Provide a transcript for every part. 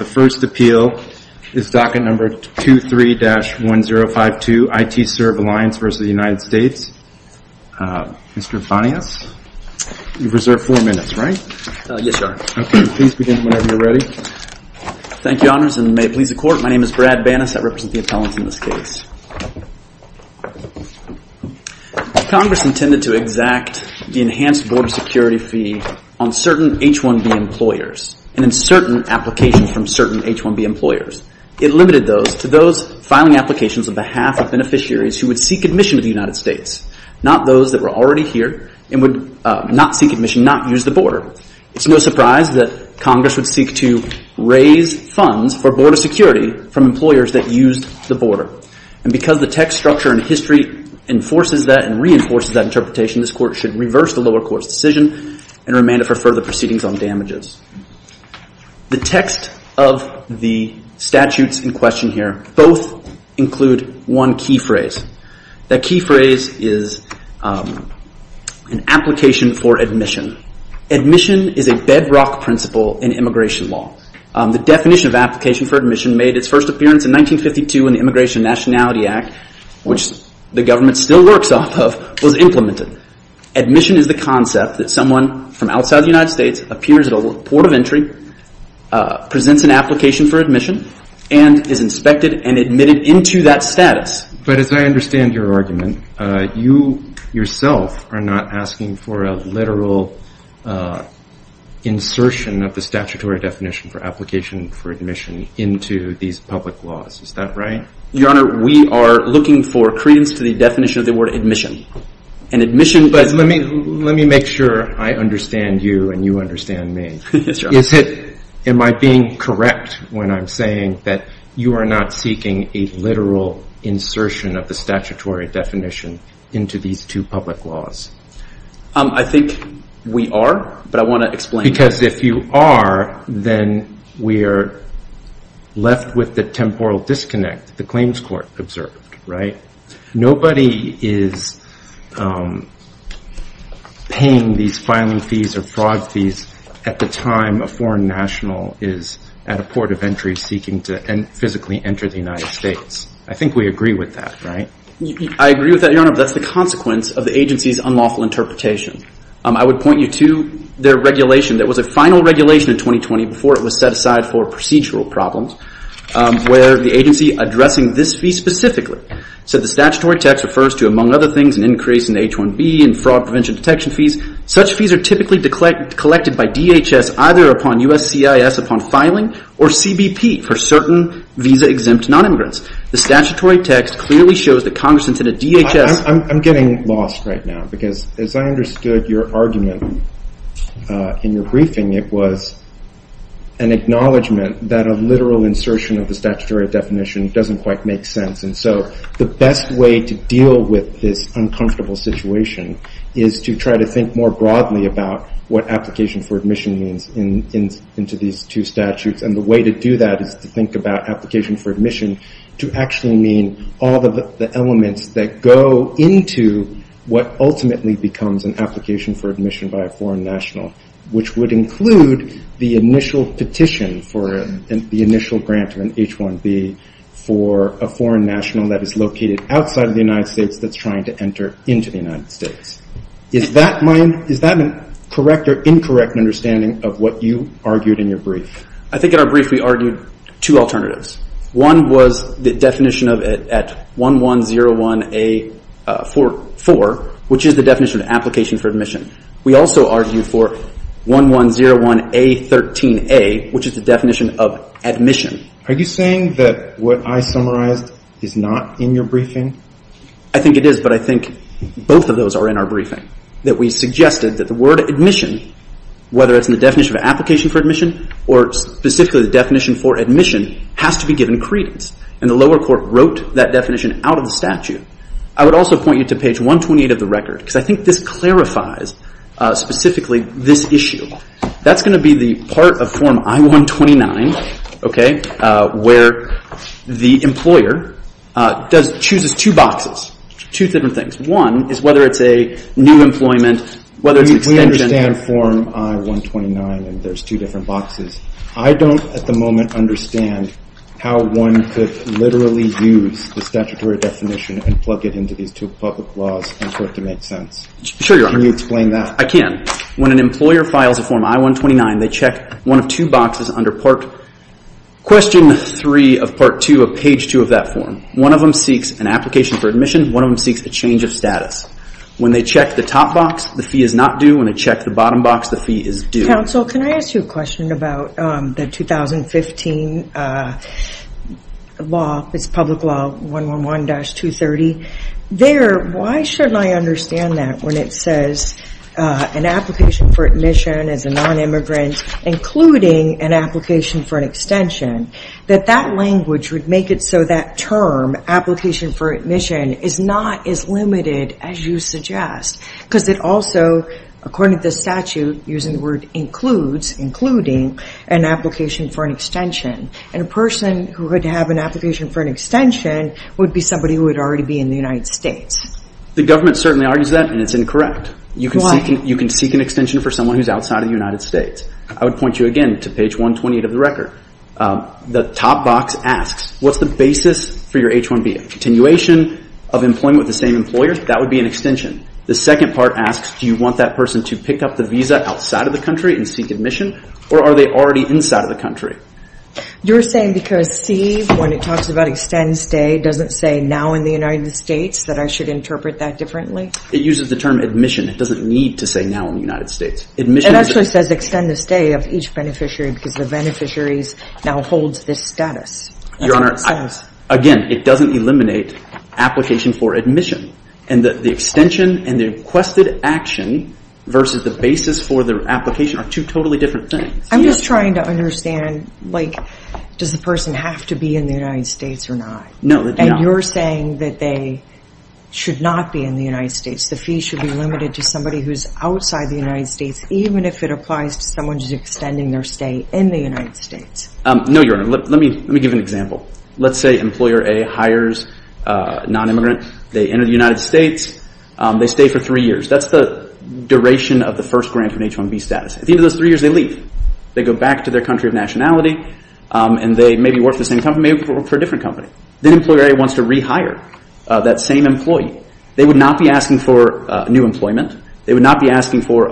The first appeal is docket number 23-1052, ITServe Alliance v. United States. Mr. Banas, you've reserved four minutes, right? Yes, Your Honor. Okay. Please begin whenever you're ready. Thank you, Your Honors, and may it please the Court, my name is Brad Banas. I represent the appellants in this case. Congress intended to exact the enhanced border security fee on certain H-1B employers and certain applications from certain H-1B employers. It limited those to those filing applications on behalf of beneficiaries who would seek admission to the United States, not those that were already here and would not seek admission, not use the border. It's no surprise that Congress would seek to raise funds for border security from employers that used the border. And because the text structure and history enforces that and reinforces that interpretation, this Court should reverse the lower court's decision and remand it for further proceedings on damages. The text of the statutes in question here both include one key phrase. That key phrase is an application for admission. Admission is a bedrock principle in immigration law. The definition of application for admission made its first appearance in 1952 in the Immigration and Nationality Act, which the government still works off of, was implemented. Admission is the concept that someone from outside the United States appears at a port of entry, presents an application for admission, and is inspected and admitted into that status. But as I understand your argument, you yourself are not asking for a literal insertion of the statutory definition for application for admission into these public laws. Is that right? Your Honor, we are looking for credence to the definition of the word admission. Let me make sure I understand you, and you understand me. Am I being correct when I'm saying that you are not seeking a literal insertion of the statutory definition into these two public laws? I think we are, but I want to explain. Because if you are, then we are left with the temporal disconnect the Claims Court observed. Nobody is paying these filing fees or fraud fees at the time a foreign national is at a port of entry seeking to physically enter the United States. I think we agree with that, right? I agree with that, Your Honor, but that's the consequence of the agency's unlawful interpretation. I would point you to their regulation that was a final regulation in 2020 before it was set aside for procedural problems, where the agency addressing this fee specifically said the statutory text refers to, among other things, an increase in H-1B and fraud prevention detection fees. Such fees are typically collected by DHS either upon USCIS upon filing, or CBP for certain visa-exempt non-immigrants. The statutory text clearly shows that Congress intended DHS... I'm getting lost right now, because as I understood your argument in your briefing, it was an acknowledgment that a literal insertion of the statutory definition doesn't quite make sense. So the best way to deal with this uncomfortable situation is to try to think more broadly about what application for admission means into these two statutes. The way to do that is to think about application for admission to actually mean all of the elements that go into what ultimately becomes an application for admission by a foreign national, which would include the initial petition for the initial grant of an H-1B for a foreign national that is located outside of the United States that's trying to enter into the United States. Is that a correct or incorrect understanding of what you argued in your brief? I think in our brief we argued two alternatives. One was the definition of it at 1101A4, which is the definition of application for admission. We also argued for 1101A13A, which is the definition of admission. Are you saying that what I summarized is not in your briefing? I think it is, but I think both of those are in our briefing. That we suggested that the word admission, whether it's in the definition of application for admission or specifically the definition for admission, has to be given credence. And the lower court wrote that definition out of the statute. I would also point you to page 128 of the record, because I think this clarifies specifically this issue. That's going to be the part of form I-129, where the employer chooses two boxes, two different things. One is whether it's a new employment, whether it's an extension. We understand form I-129 and there's two different boxes. I don't at the moment understand how one could literally use the statutory definition and plug it into these two public laws and for it to make sense. Can you explain that? I can. When an employer files a form I-129, they check one of two boxes under question 3 of part 2 of page 2 of that form. One of them seeks an application for admission, one of them seeks a change of status. When they check the top box, the fee is not due. When they check the bottom box, the fee is due. Counsel, can I ask you a question about the 2015 law, it's public law 111-230. Why shouldn't I understand that when it says an application for admission as a non-immigrant, including an application for an extension, that that language would make it so that term, application for admission, is not as limited as you suggest? Because it also, according to the statute, using the word includes, including, an application for an extension and a person who would have an application for an extension would be somebody who would already be in the United States. The government certainly argues that and it's incorrect. Why? You can seek an extension for someone who's outside of the United States. I would point you again to page 128 of the record. The top box asks, what's the basis for your H-1B? Continuation of employment with the same employer, that would be an extension. The second part asks, do you want that person to pick up the visa outside of the country and seek admission or are they already inside of the country? You're saying because C, when it talks about extend stay, doesn't say now in the United States that I should interpret that differently? It uses the term admission. It doesn't need to say now in the United States. It actually says extend the stay of each beneficiary because the beneficiaries now holds this status. Your Honor, again, it doesn't eliminate application for admission and the extension and the requested action versus the basis for the application are two totally different things. I'm just trying to understand, like, does the person have to be in the United States or not? No, they don't. And you're saying that they should not be in the United States. The fee should be limited to somebody who's outside the United States, even if it applies to someone who's extending their stay in the United States. No, Your Honor. Let me give an example. Let's say Employer A hires a non-immigrant. They enter the United States. They stay for three years. That's the duration of the first grant for an H-1B status. At the end of those three years, they leave. They go back to their country of nationality and they maybe work for the same company, maybe work for a different company. Then Employer A wants to rehire that same employee. They would not be asking for new employment. They would not be asking for,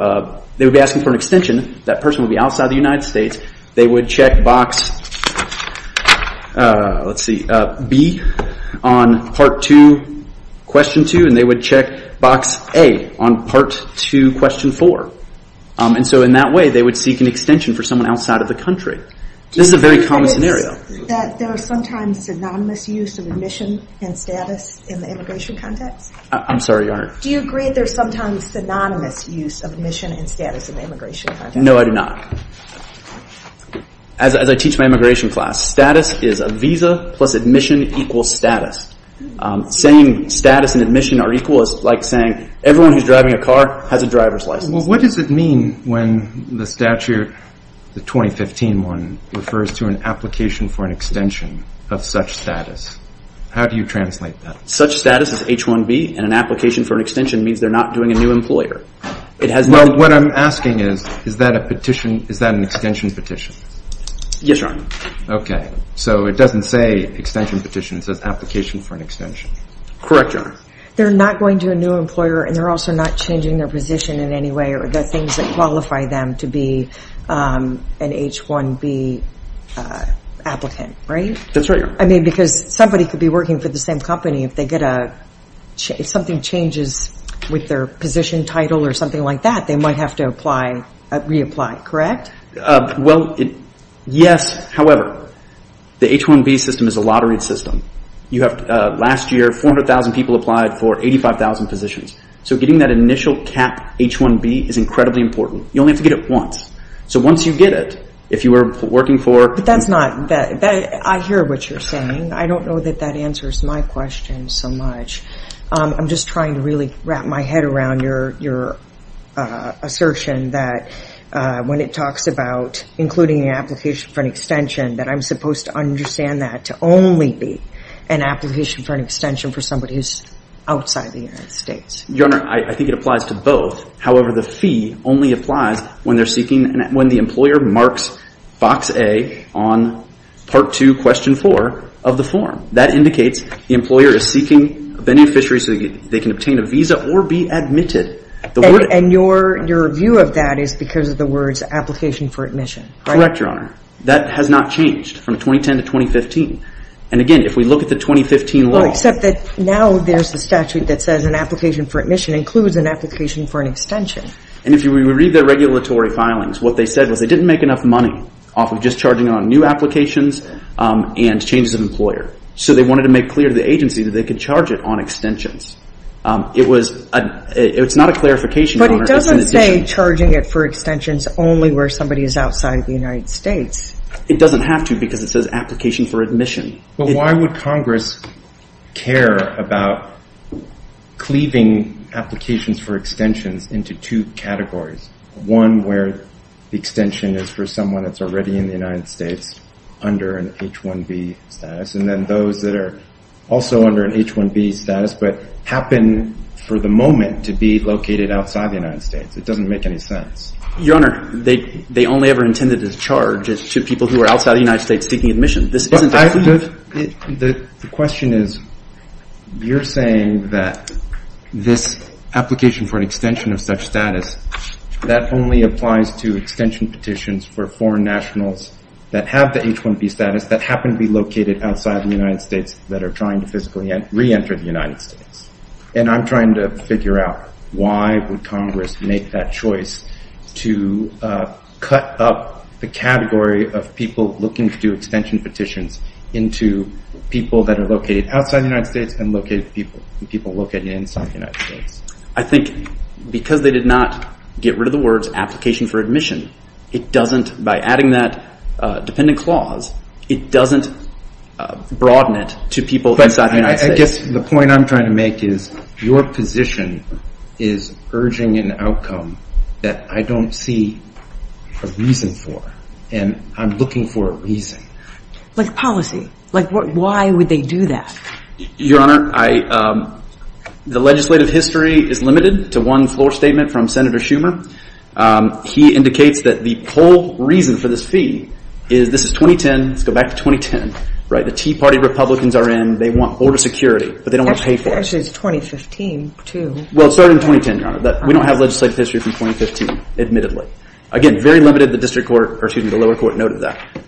they would be asking for an extension. That person would be outside the United States. They would check box, let's see, B on part two, question two. And they would check box A on part two, question four. And so in that way, they would seek an extension for someone outside of the country. This is a very common scenario. That there are sometimes synonymous use of admission and status in the immigration context? I'm sorry, Your Honor. Do you agree there's sometimes synonymous use of admission and status in the immigration context? No, I do not. As I teach my immigration class, status is a visa plus admission equals status. Saying status and admission are equal is like saying everyone who's driving a car has a driver's license. Well, what does it mean when the statute, the 2015 one, refers to an application for an extension of such status? How do you translate that? Such status is H-1B and an application for an extension means they're not doing a new employer. Well, what I'm asking is, is that a petition, is that an extension petition? Yes, Your Honor. Okay. So it doesn't say extension petition, it says application for an extension. Correct, Your Honor. They're not going to a new employer and they're also not changing their position in any way or the things that qualify them to be an H-1B applicant, right? That's right, Your Honor. I mean, because somebody could be working for the same company if they get a, if something changes with their position title or something like that, they might have to apply, reapply, correct? Well, yes, however, the H-1B system is a lotteried system. You have, last year, 400,000 people applied for 85,000 positions. So getting that initial cap H-1B is incredibly important. You only have to get it once. So once you get it, if you were working for- But that's not, I hear what you're saying. I don't know that that answers my question so much. I'm just trying to really wrap my head around your assertion that when it talks about including an application for an extension, that I'm supposed to understand that to only be an application for an extension for somebody who's outside the United States. Your Honor, I think it applies to both. However, the fee only applies when they're seeking, when the employer marks box A on part two, question four of the form. That indicates the employer is seeking a beneficiary so they can obtain a visa or be admitted. And your view of that is because of the words application for admission, right? Correct, Your Honor. That has not changed from 2010 to 2015. And again, if we look at the 2015 law- Well, except that now there's a statute that says an application for admission includes an application for an extension. And if you read the regulatory filings, what they said was they didn't make enough money off of just charging on new applications and changes of employer. So they wanted to make clear to the agency that they could charge it on extensions. It was, it's not a clarification, Your Honor, it's an addition. But it doesn't say charging it for extensions only where somebody is outside the United States. It doesn't have to because it says application for admission. But why would Congress care about cleaving applications for extensions into two categories? One where the extension is for someone that's already in the United States under an H-1B status. And then those that are also under an H-1B status but happen for the moment to be located outside the United States. It doesn't make any sense. Your Honor, they only ever intended to charge it to people who are outside the United States seeking admission. This isn't a cleave. The question is, you're saying that this application for an extension of such status, that only applies to extension petitions for foreign nationals that have the H-1B status that happen to be located outside the United States that are trying to physically re-enter the United States. And I'm trying to figure out why would Congress make that choice to cut up the category of people looking to do extension petitions into people that are located outside the United States and people located inside the United States. I think because they did not get rid of the words application for admission, it doesn't by adding that dependent clause, it doesn't broaden it to people inside the United States. I guess the point I'm trying to make is your position is urging an outcome that I don't see a reason for, and I'm looking for a reason. Like policy, like why would they do that? Your Honor, the legislative history is limited to one floor statement from Senator Schumer. He indicates that the whole reason for this fee is this is 2010, let's go back to 2010, the Tea Party Republicans are in, they want border security, but they don't want to pay for it. Actually, it's 2015 too. Well, it started in 2010, Your Honor, but we don't have legislative history from 2015, admittedly. Again, very limited, the lower court noted that.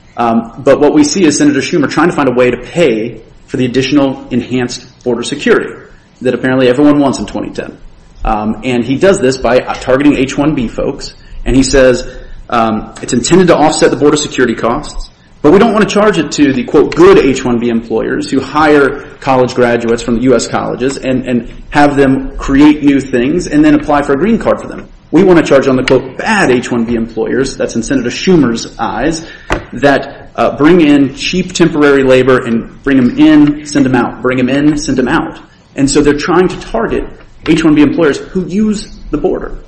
But what we see is Senator Schumer trying to find a way to pay for the additional enhanced border security that apparently everyone wants in 2010. And he does this by targeting H-1B folks, and he says it's intended to offset the border security costs, but we don't want to charge it to the quote good H-1B employers who hire college graduates from U.S. colleges and have them create new things and then apply for a green card for them. We want to charge on the quote bad H-1B employers, that's in Senator Schumer's eyes, that bring in cheap temporary labor and bring them in, send them out, bring them in, send them out. And so they're trying to target H-1B employers who use the border.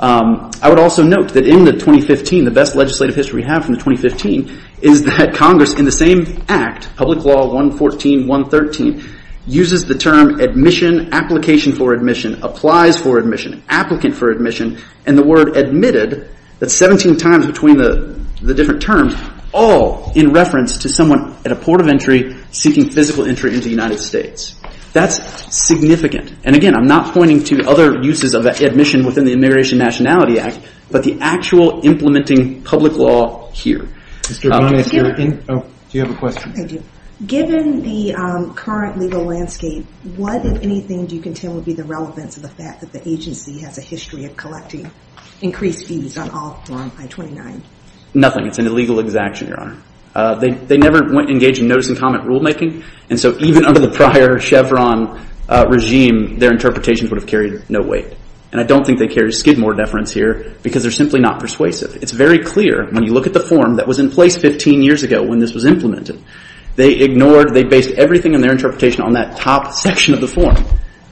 I would also note that in the 2015, the best legislative history we have from the 2015 is that Congress in the same act, Public Law 114.113, uses the term admission, application for admission, applies for admission, applicant for admission, and the word admitted, that's 17 times between the different terms, all in reference to someone at a port of entry seeking physical entry into the United States. That's significant. And again, I'm not pointing to other uses of admission within the Immigration Nationality Act, but the actual implementing public law here. Do you have a question? I do. Given the current legal landscape, what, if anything, do you contend would be the relevance of the fact that the agency has a history of collecting increased fees on all Form I-29? Nothing. It's an illegal exaction, Your Honor. They never went engaged in notice and comment rulemaking. And so even under the prior Chevron regime, their interpretations would have carried no weight. And I don't think they carry skid more deference here because they're simply not persuasive. It's very clear when you look at the form that was in place 15 years ago when this was implemented. They ignored, they based everything in their interpretation on that top section of the form,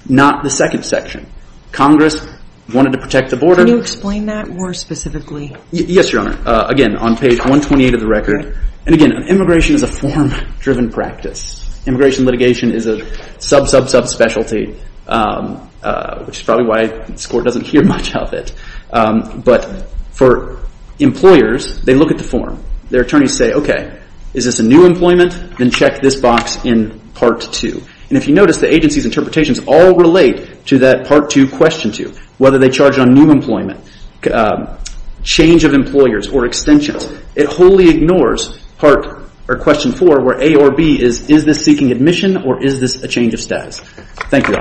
not the second section. Congress wanted to protect the border. Can you explain that more specifically? Yes, Your Honor. Again, on page 128 of the record. And again, immigration is a form-driven practice. Immigration litigation is a sub-sub-sub specialty, which is probably why this Court doesn't hear much of it. But for employers, they look at the form. Their attorneys say, okay, is this a new employment? Then check this box in Part II. And if you notice, the agency's interpretations all relate to that Part II, Question II, whether they charge on new employment, change of employers, or extensions. It wholly ignores Part, or Question IV, where A or B is, is this seeking admission or is this a change of status? Thank you, Your Honor.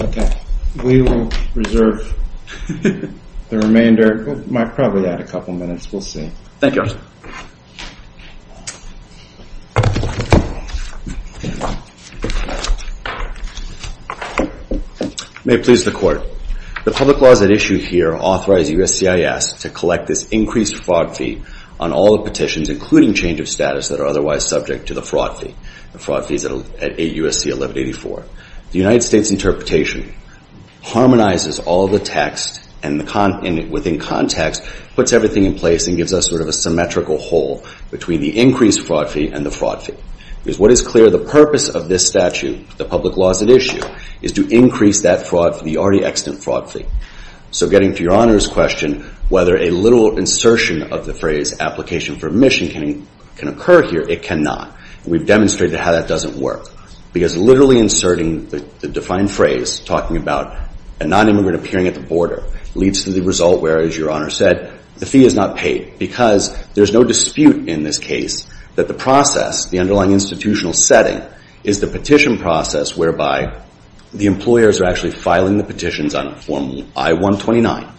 Okay, we will reserve the remainder, might probably add a couple minutes, we'll see. Thank you, Your Honor. May it please the Court. The public laws at issue here authorize USCIS to collect this increased fraud fee on all the petitions, including change of status, that are otherwise subject to the fraud fee. The fraud fee is at 8 USC 1184. The United States interpretation harmonizes all the text and within context, puts everything in place and gives us sort of a symmetrical hole between the increased fraud fee and the fraud fee. Because what is clear, the purpose of this statute, the public laws at issue, is to increase that fraud, the already extant fraud fee. So getting to Your Honor's question, whether a literal insertion of the phrase application for admission can occur here, it cannot. We've demonstrated how that doesn't work. Because literally inserting the defined phrase, talking about a non-immigrant appearing at the border, leads to the result where, as Your Honor said, the fee is not paid. Because there's no dispute in this case that the process, the underlying institutional setting, is the petition process whereby the employers are actually filing the petitions on form I-129,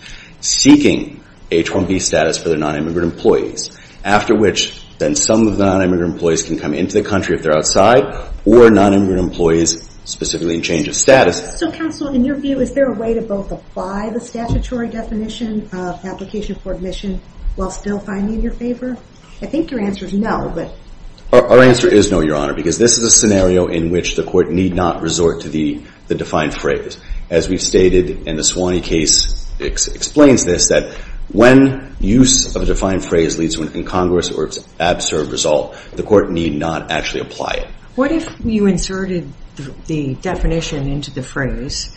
seeking H-1B status for their non-immigrant employees. After which, then some of the non-immigrant employees can come into the country if they're outside, or non-immigrant employees specifically in change of status. So counsel, in your view, is there a way to both apply the statutory definition of application for admission while still finding in your favor? I think your answer is no, but. Our answer is no, Your Honor, because this is a scenario in which the court need not resort to the defined phrase. As we've stated in the Suwannee case, it explains this, that when use of a defined phrase leads to an incongruous or absurd result, the court need not actually apply it. What if you inserted the definition into the phrase,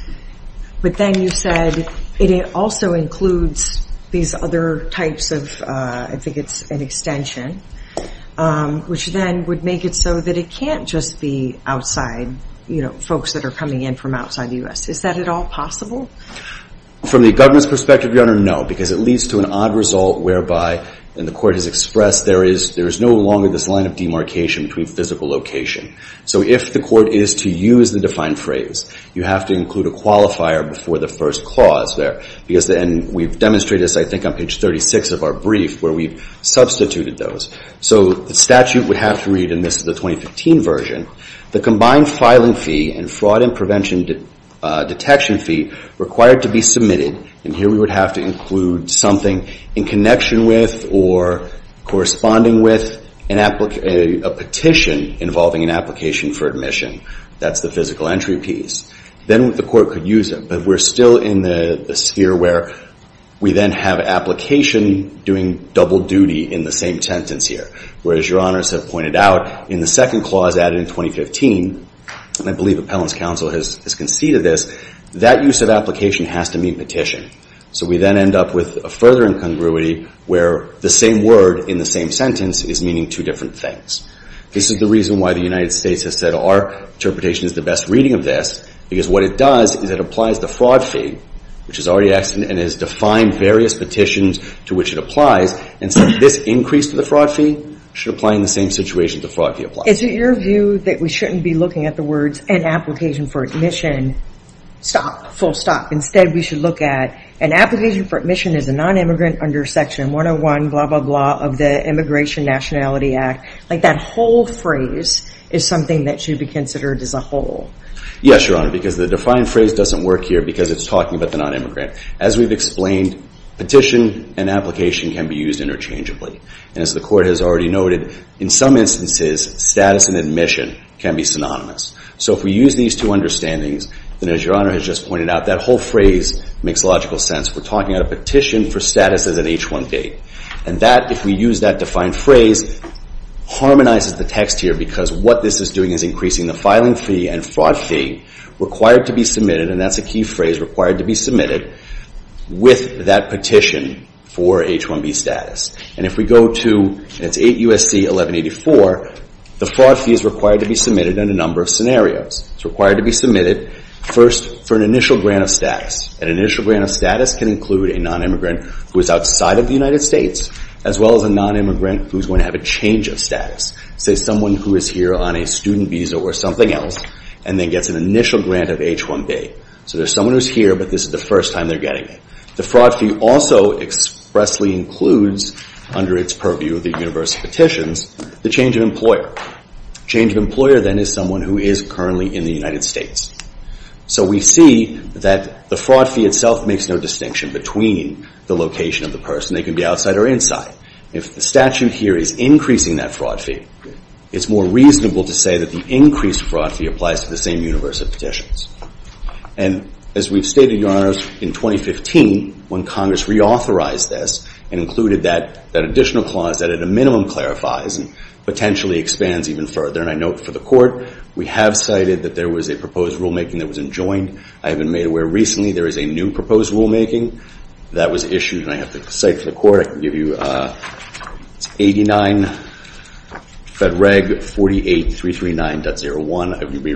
but then you said, it also includes these other types of, I think it's an extension, which then would make it so that it can't just be outside, you know, folks that are coming in from outside the US. Is that at all possible? From the government's perspective, Your Honor, no. Because it leads to an odd result whereby, and the court has expressed, there is no longer this line of demarcation between physical location. So if the court is to use the defined phrase, you have to include a qualifier before the first clause there. Because then we've demonstrated this, I think, on page 36 of our brief, where we've substituted those. So the statute would have to read, and this is the 2015 version, the combined filing fee and fraud and prevention detection fee required to be submitted, and here we would have to include something in connection with or corresponding with a petition involving an application for admission. That's the physical entry piece. Then the court could use it. But we're still in the sphere where we then have application doing double duty in the same sentence here. Whereas Your Honors have pointed out, in the second clause added in 2015, and I believe Appellant's counsel has conceded this, that use of application has to mean petition. So we then end up with a further incongruity where the same word in the same sentence is meaning two different things. This is the reason why the United States has said our interpretation is the best reading of this. Because what it does is it applies the fraud fee, which has already and has defined various petitions to which it applies. And so this increase to the fraud fee should apply in the same situation the fraud fee applies. Is it your view that we shouldn't be looking at the words an application for admission, stop, full stop? Instead, we should look at an application for admission is a non-immigrant under section 101, blah, blah, blah, of the Immigration Nationality Act. Like that whole phrase is something that should be considered as a whole. Yes, Your Honor, because the defined phrase doesn't work here because it's talking about the non-immigrant. As we've explained, petition and application can be used interchangeably. And as the court has already noted, in some instances, status and admission can be synonymous. So if we use these two understandings, then as Your Honor has just pointed out, that whole phrase makes logical sense. We're talking about a petition for status as an H-1B. And that, if we use that defined phrase, harmonizes the text here because what this is doing is increasing the filing fee and fraud fee required to be submitted. And that's a key phrase, required to be submitted with that petition for H-1B status. And if we go to, and it's 8 U.S.C. 1184, the fraud fee is required to be submitted in a number of scenarios. It's required to be submitted first for an initial grant of status. An initial grant of status can include a non-immigrant who is outside of the United States, as well as a non-immigrant who's going to have a change of status. Say someone who is here on a student visa or something else and then gets an initial grant of H-1B. So there's someone who's here, but this is the first time they're getting it. The fraud fee also expressly includes, under its purview of the universal petitions, the change of employer. Change of employer, then, is someone who is currently in the United States. So we see that the fraud fee itself makes no distinction between the location of the person. They can be outside or inside. If the statute here is increasing that fraud fee, it's more reasonable to say that the increased fraud fee applies to the same universal petitions. And as we've stated, Your Honors, in 2015, when Congress reauthorized this and included that additional clause that, at a minimum, clarifies and potentially expands even further. And I note for the court, we have cited that there was a proposed rulemaking that was enjoined. I have been made aware recently there is a new proposed rulemaking that was issued, and I have to cite for the court. I can give you 89 Fed Reg 48339.01. We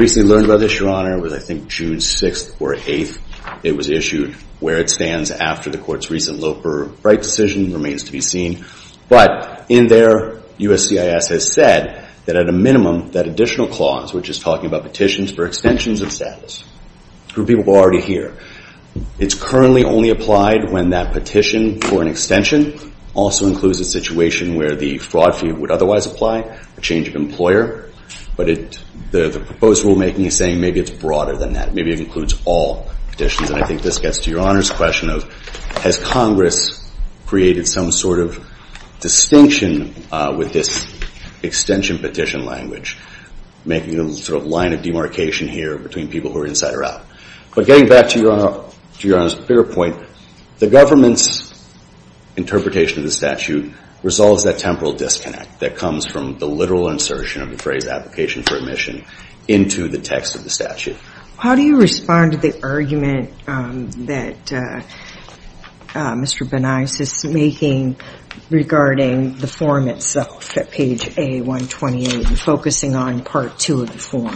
recently learned about this, Your Honor. It was, I think, June 6th or 8th. It was issued. Where it stands after the court's recent Loper-Bright decision remains to be seen. But in there, USCIS has said that, at a minimum, that additional clause, which is talking about petitions for extensions of status, for people who are already here, it's currently only applied when that petition for an extension also includes a situation where the fraud fee would otherwise apply, a change of employer. But the proposed rulemaking is saying maybe it's broader than that. Maybe it includes all petitions. And I think this gets to Your Honor's question of, has Congress created some sort of distinction with this extension petition language, making a sort of line of demarcation here between people who are inside or out. But getting back to Your Honor's bigger point, the government's interpretation of the statute resolves that temporal disconnect that comes from the literal insertion of the phrase application for admission into the text of the statute. How do you respond to the argument that Mr. Benias is making regarding the form itself at page A128, focusing on part two of the form?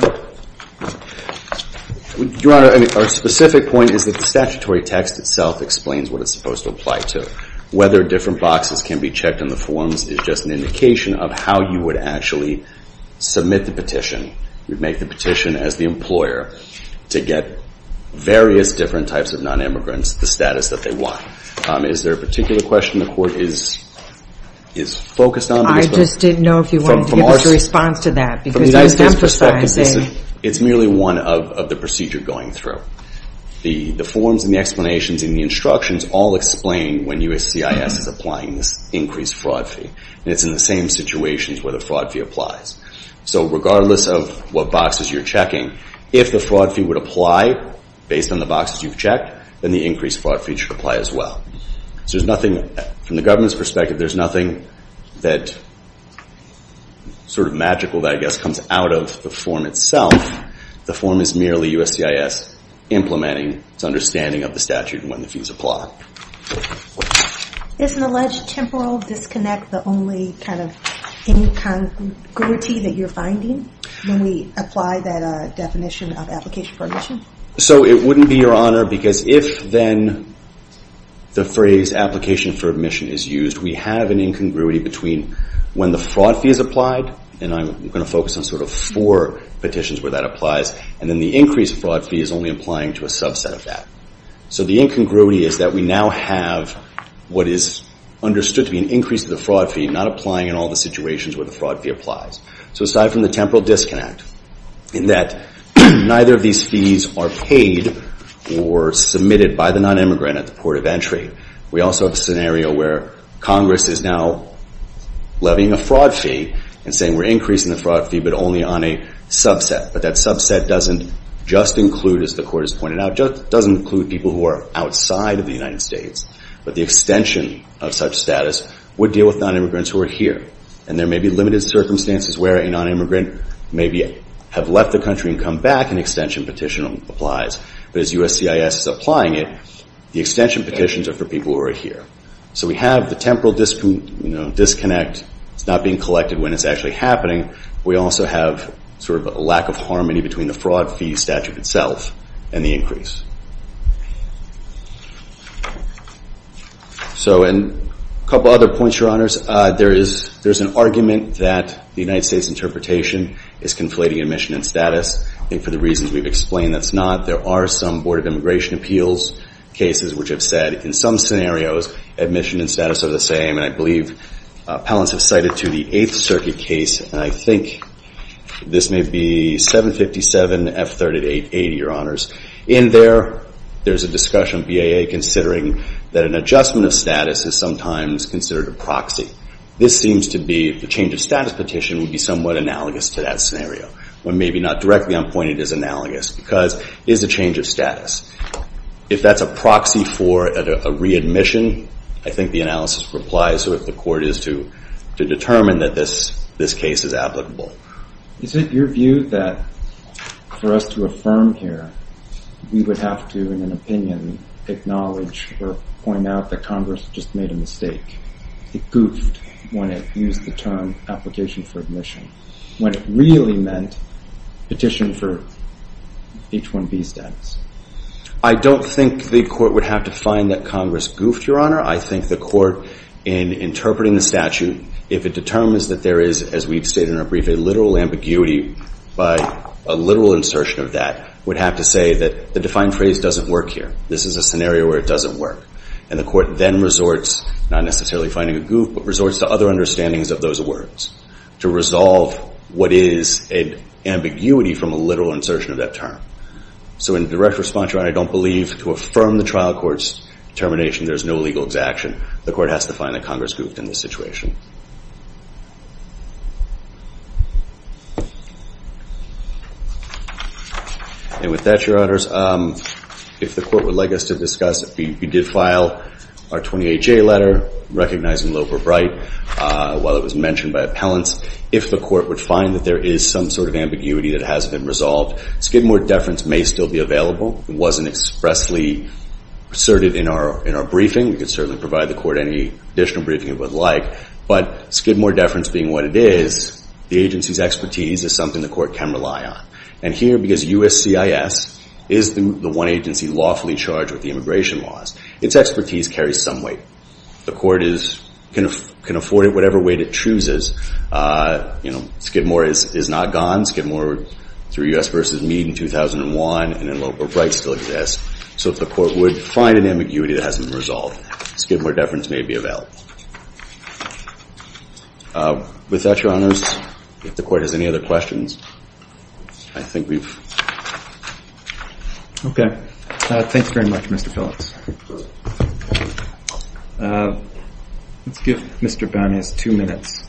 Your Honor, our specific point is that the statutory text itself explains what it's supposed to apply to. Whether different boxes can be checked in the forms is just an indication of how you would actually submit the petition. You'd make the petition as the employer to get various different types of non-immigrants the status that they want. Is there a particular question the Court is focused on? I just didn't know if you wanted to give us a response to that. Because you were emphasizing. It's merely one of the procedure going through. The forms and the explanations and the instructions all explain when USCIS is applying this increased fraud fee. And it's in the same situations where the fraud fee applies. So regardless of what boxes you're checking, if the fraud fee would apply based on the boxes you've checked, then the increased fraud fee should apply as well. So there's nothing, from the government's perspective, there's nothing that sort of magical, I guess, comes out of the form itself. The form is merely USCIS implementing its understanding of the statute and when the fees apply. Isn't alleged temporal disconnect the only kind of incongruity that you're finding when we apply that definition of application for admission? So it wouldn't be your honor. Because if then the phrase application for admission is used, we have an incongruity between when the fraud fee is applied. And I'm going to focus on sort of four petitions where that applies. And then the increased fraud fee is only applying to a subset of that. So the incongruity is that we now have what is understood to be an increase of the fraud fee not applying in all the situations where the fraud fee applies. So aside from the temporal disconnect, in that neither of these fees are paid or submitted by the non-immigrant at the port of entry, we also have a scenario where Congress is now levying a fraud fee and saying we're increasing the fraud fee but only on a subset. But that subset doesn't just include, as the court has pointed out, just doesn't include people who are outside of the United States. But the extension of such status would deal with non-immigrants who are here. And there may be limited circumstances where a non-immigrant maybe have left the country and come back, an extension petition applies. But as USCIS is applying it, the extension petitions are for people who are here. So we have the temporal disconnect. It's not being collected when it's actually happening. We also have sort of a lack of harmony between the fraud fee statute itself and the increase. So a couple other points, Your Honors. There is an argument that the United States interpretation is conflating admission and status. I think for the reasons we've explained, that's not. There are some Board of Immigration Appeals cases which have said in some scenarios admission and status are the same. And I believe appellants have cited to the Eighth Circuit case. And I think this may be 757 F3880, Your Honors. In there, there's a discussion of BAA considering that an adjustment of status is sometimes considered a proxy. This seems to be the change of status petition would be somewhat analogous to that scenario. Or maybe not directly. I'm pointing it as analogous. Because it is a change of status. If that's a proxy for a readmission, I think the analysis would apply. So if the court is to determine that this case is applicable. Is it your view that for us to affirm here, we would have to, in an opinion, acknowledge or point out that Congress just made a mistake? It goofed when it used the term application for admission. When it really meant petition for H-1B status. I don't think the court would have to find that Congress goofed, Your Honor. I think the court, in interpreting the statute, if it determines that there is, as we've stated in our brief, a literal ambiguity by a literal insertion of that, would have to say that the defined phrase doesn't work here. This is a scenario where it doesn't work. And the court then resorts, not necessarily finding a goof, but resorts to other understandings of those words to resolve what is an ambiguity from a literal insertion of that term. So in direct response, Your Honor, I don't believe to affirm the trial court's determination there's no legal exaction. The court has to find that Congress goofed in this situation. And with that, Your Honors, if the court would like us to discuss, if we did file our 28-J letter, recognizing Loeb or Bright, while it was mentioned by appellants, if the court would find that there is some sort of ambiguity that hasn't been resolved, Skidmore deference may still be available. It wasn't expressly asserted in our briefing. We could certainly provide the court any additional briefing it would like. But Skidmore deference being what it is, the agency's expertise is something the court can rely on. And here, because USCIS is the one agency lawfully charged with the immigration laws, its expertise carries some weight. The court can afford it whatever weight it chooses. Skidmore is not gone. Skidmore, through US v. Meade in 2001, and in Loeb or Bright, still exists. So if the court would find an ambiguity that hasn't been resolved, Skidmore deference may be available. With that, Your Honors, if the court has any other questions, I think we've. OK. Thanks very much, Mr. Phillips. Let's give Mr. Bowneys two minutes.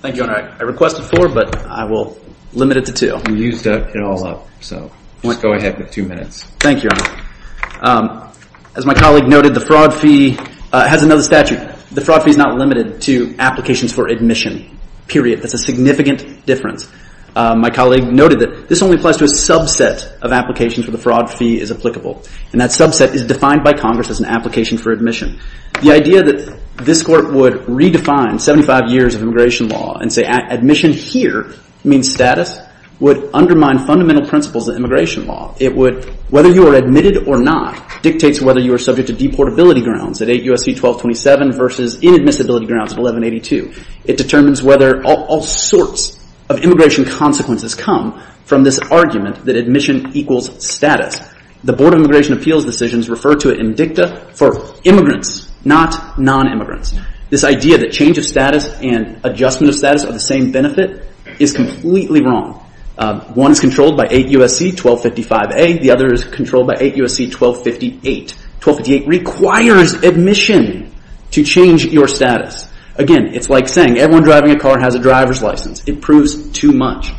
Thank you, Your Honor. I requested four, but I will limit it to two. You stuck it all up. So let's go ahead with two minutes. Thank you, Your Honor. As my colleague noted, the fraud fee has another statute. The fraud fee is not limited to applications for admission, period. That's a significant difference. My colleague noted that this only applies to a subset of applications where the fraud fee is applicable. And that subset is defined by Congress as an application for admission. The idea that this court would redefine 75 years of immigration law and say, admission here means status, would undermine fundamental principles of immigration law. Whether you are admitted or not dictates whether you are subject to deportability grounds at 8 U.S.C. 1227 versus inadmissibility grounds of 1182. It determines whether all sorts of immigration consequences come from this argument that admission equals status. The Board of Immigration Appeals decisions refer to it in dicta for immigrants, not non-immigrants. This idea that change of status and adjustment of status are the same benefit is completely wrong. One is controlled by 8 U.S.C. 1255A. The other is controlled by 8 U.S.C. 1258. 1258 requires admission to change your status. Again, it's like saying everyone driving a car has a driver's license. It proves too much.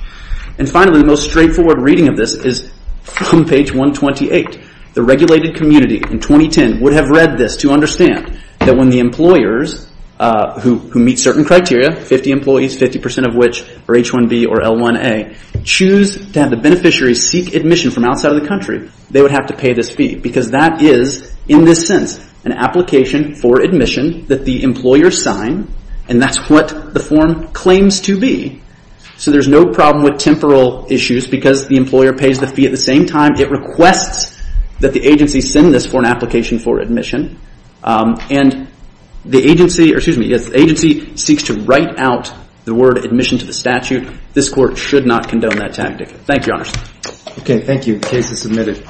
And finally, the most straightforward reading of this is from page 128. The regulated community in 2010 would have read this to understand that when the employers who meet certain criteria, 50 employees, 50% of which are H-1B or L-1A, choose to have the beneficiary seek admission from outside of the country, they would have to pay this fee. Because that is, in this sense, an application for admission that the employer signed. And that's what the form claims to be. So there's no problem with temporal issues because the employer pays the fee at the same time. It requests that the agency send this for an application for admission. And the agency seeks to write out the word admission to the statute. This court should not condone that tactic. Thank you, Your Honor. OK, thank you. The case is submitted.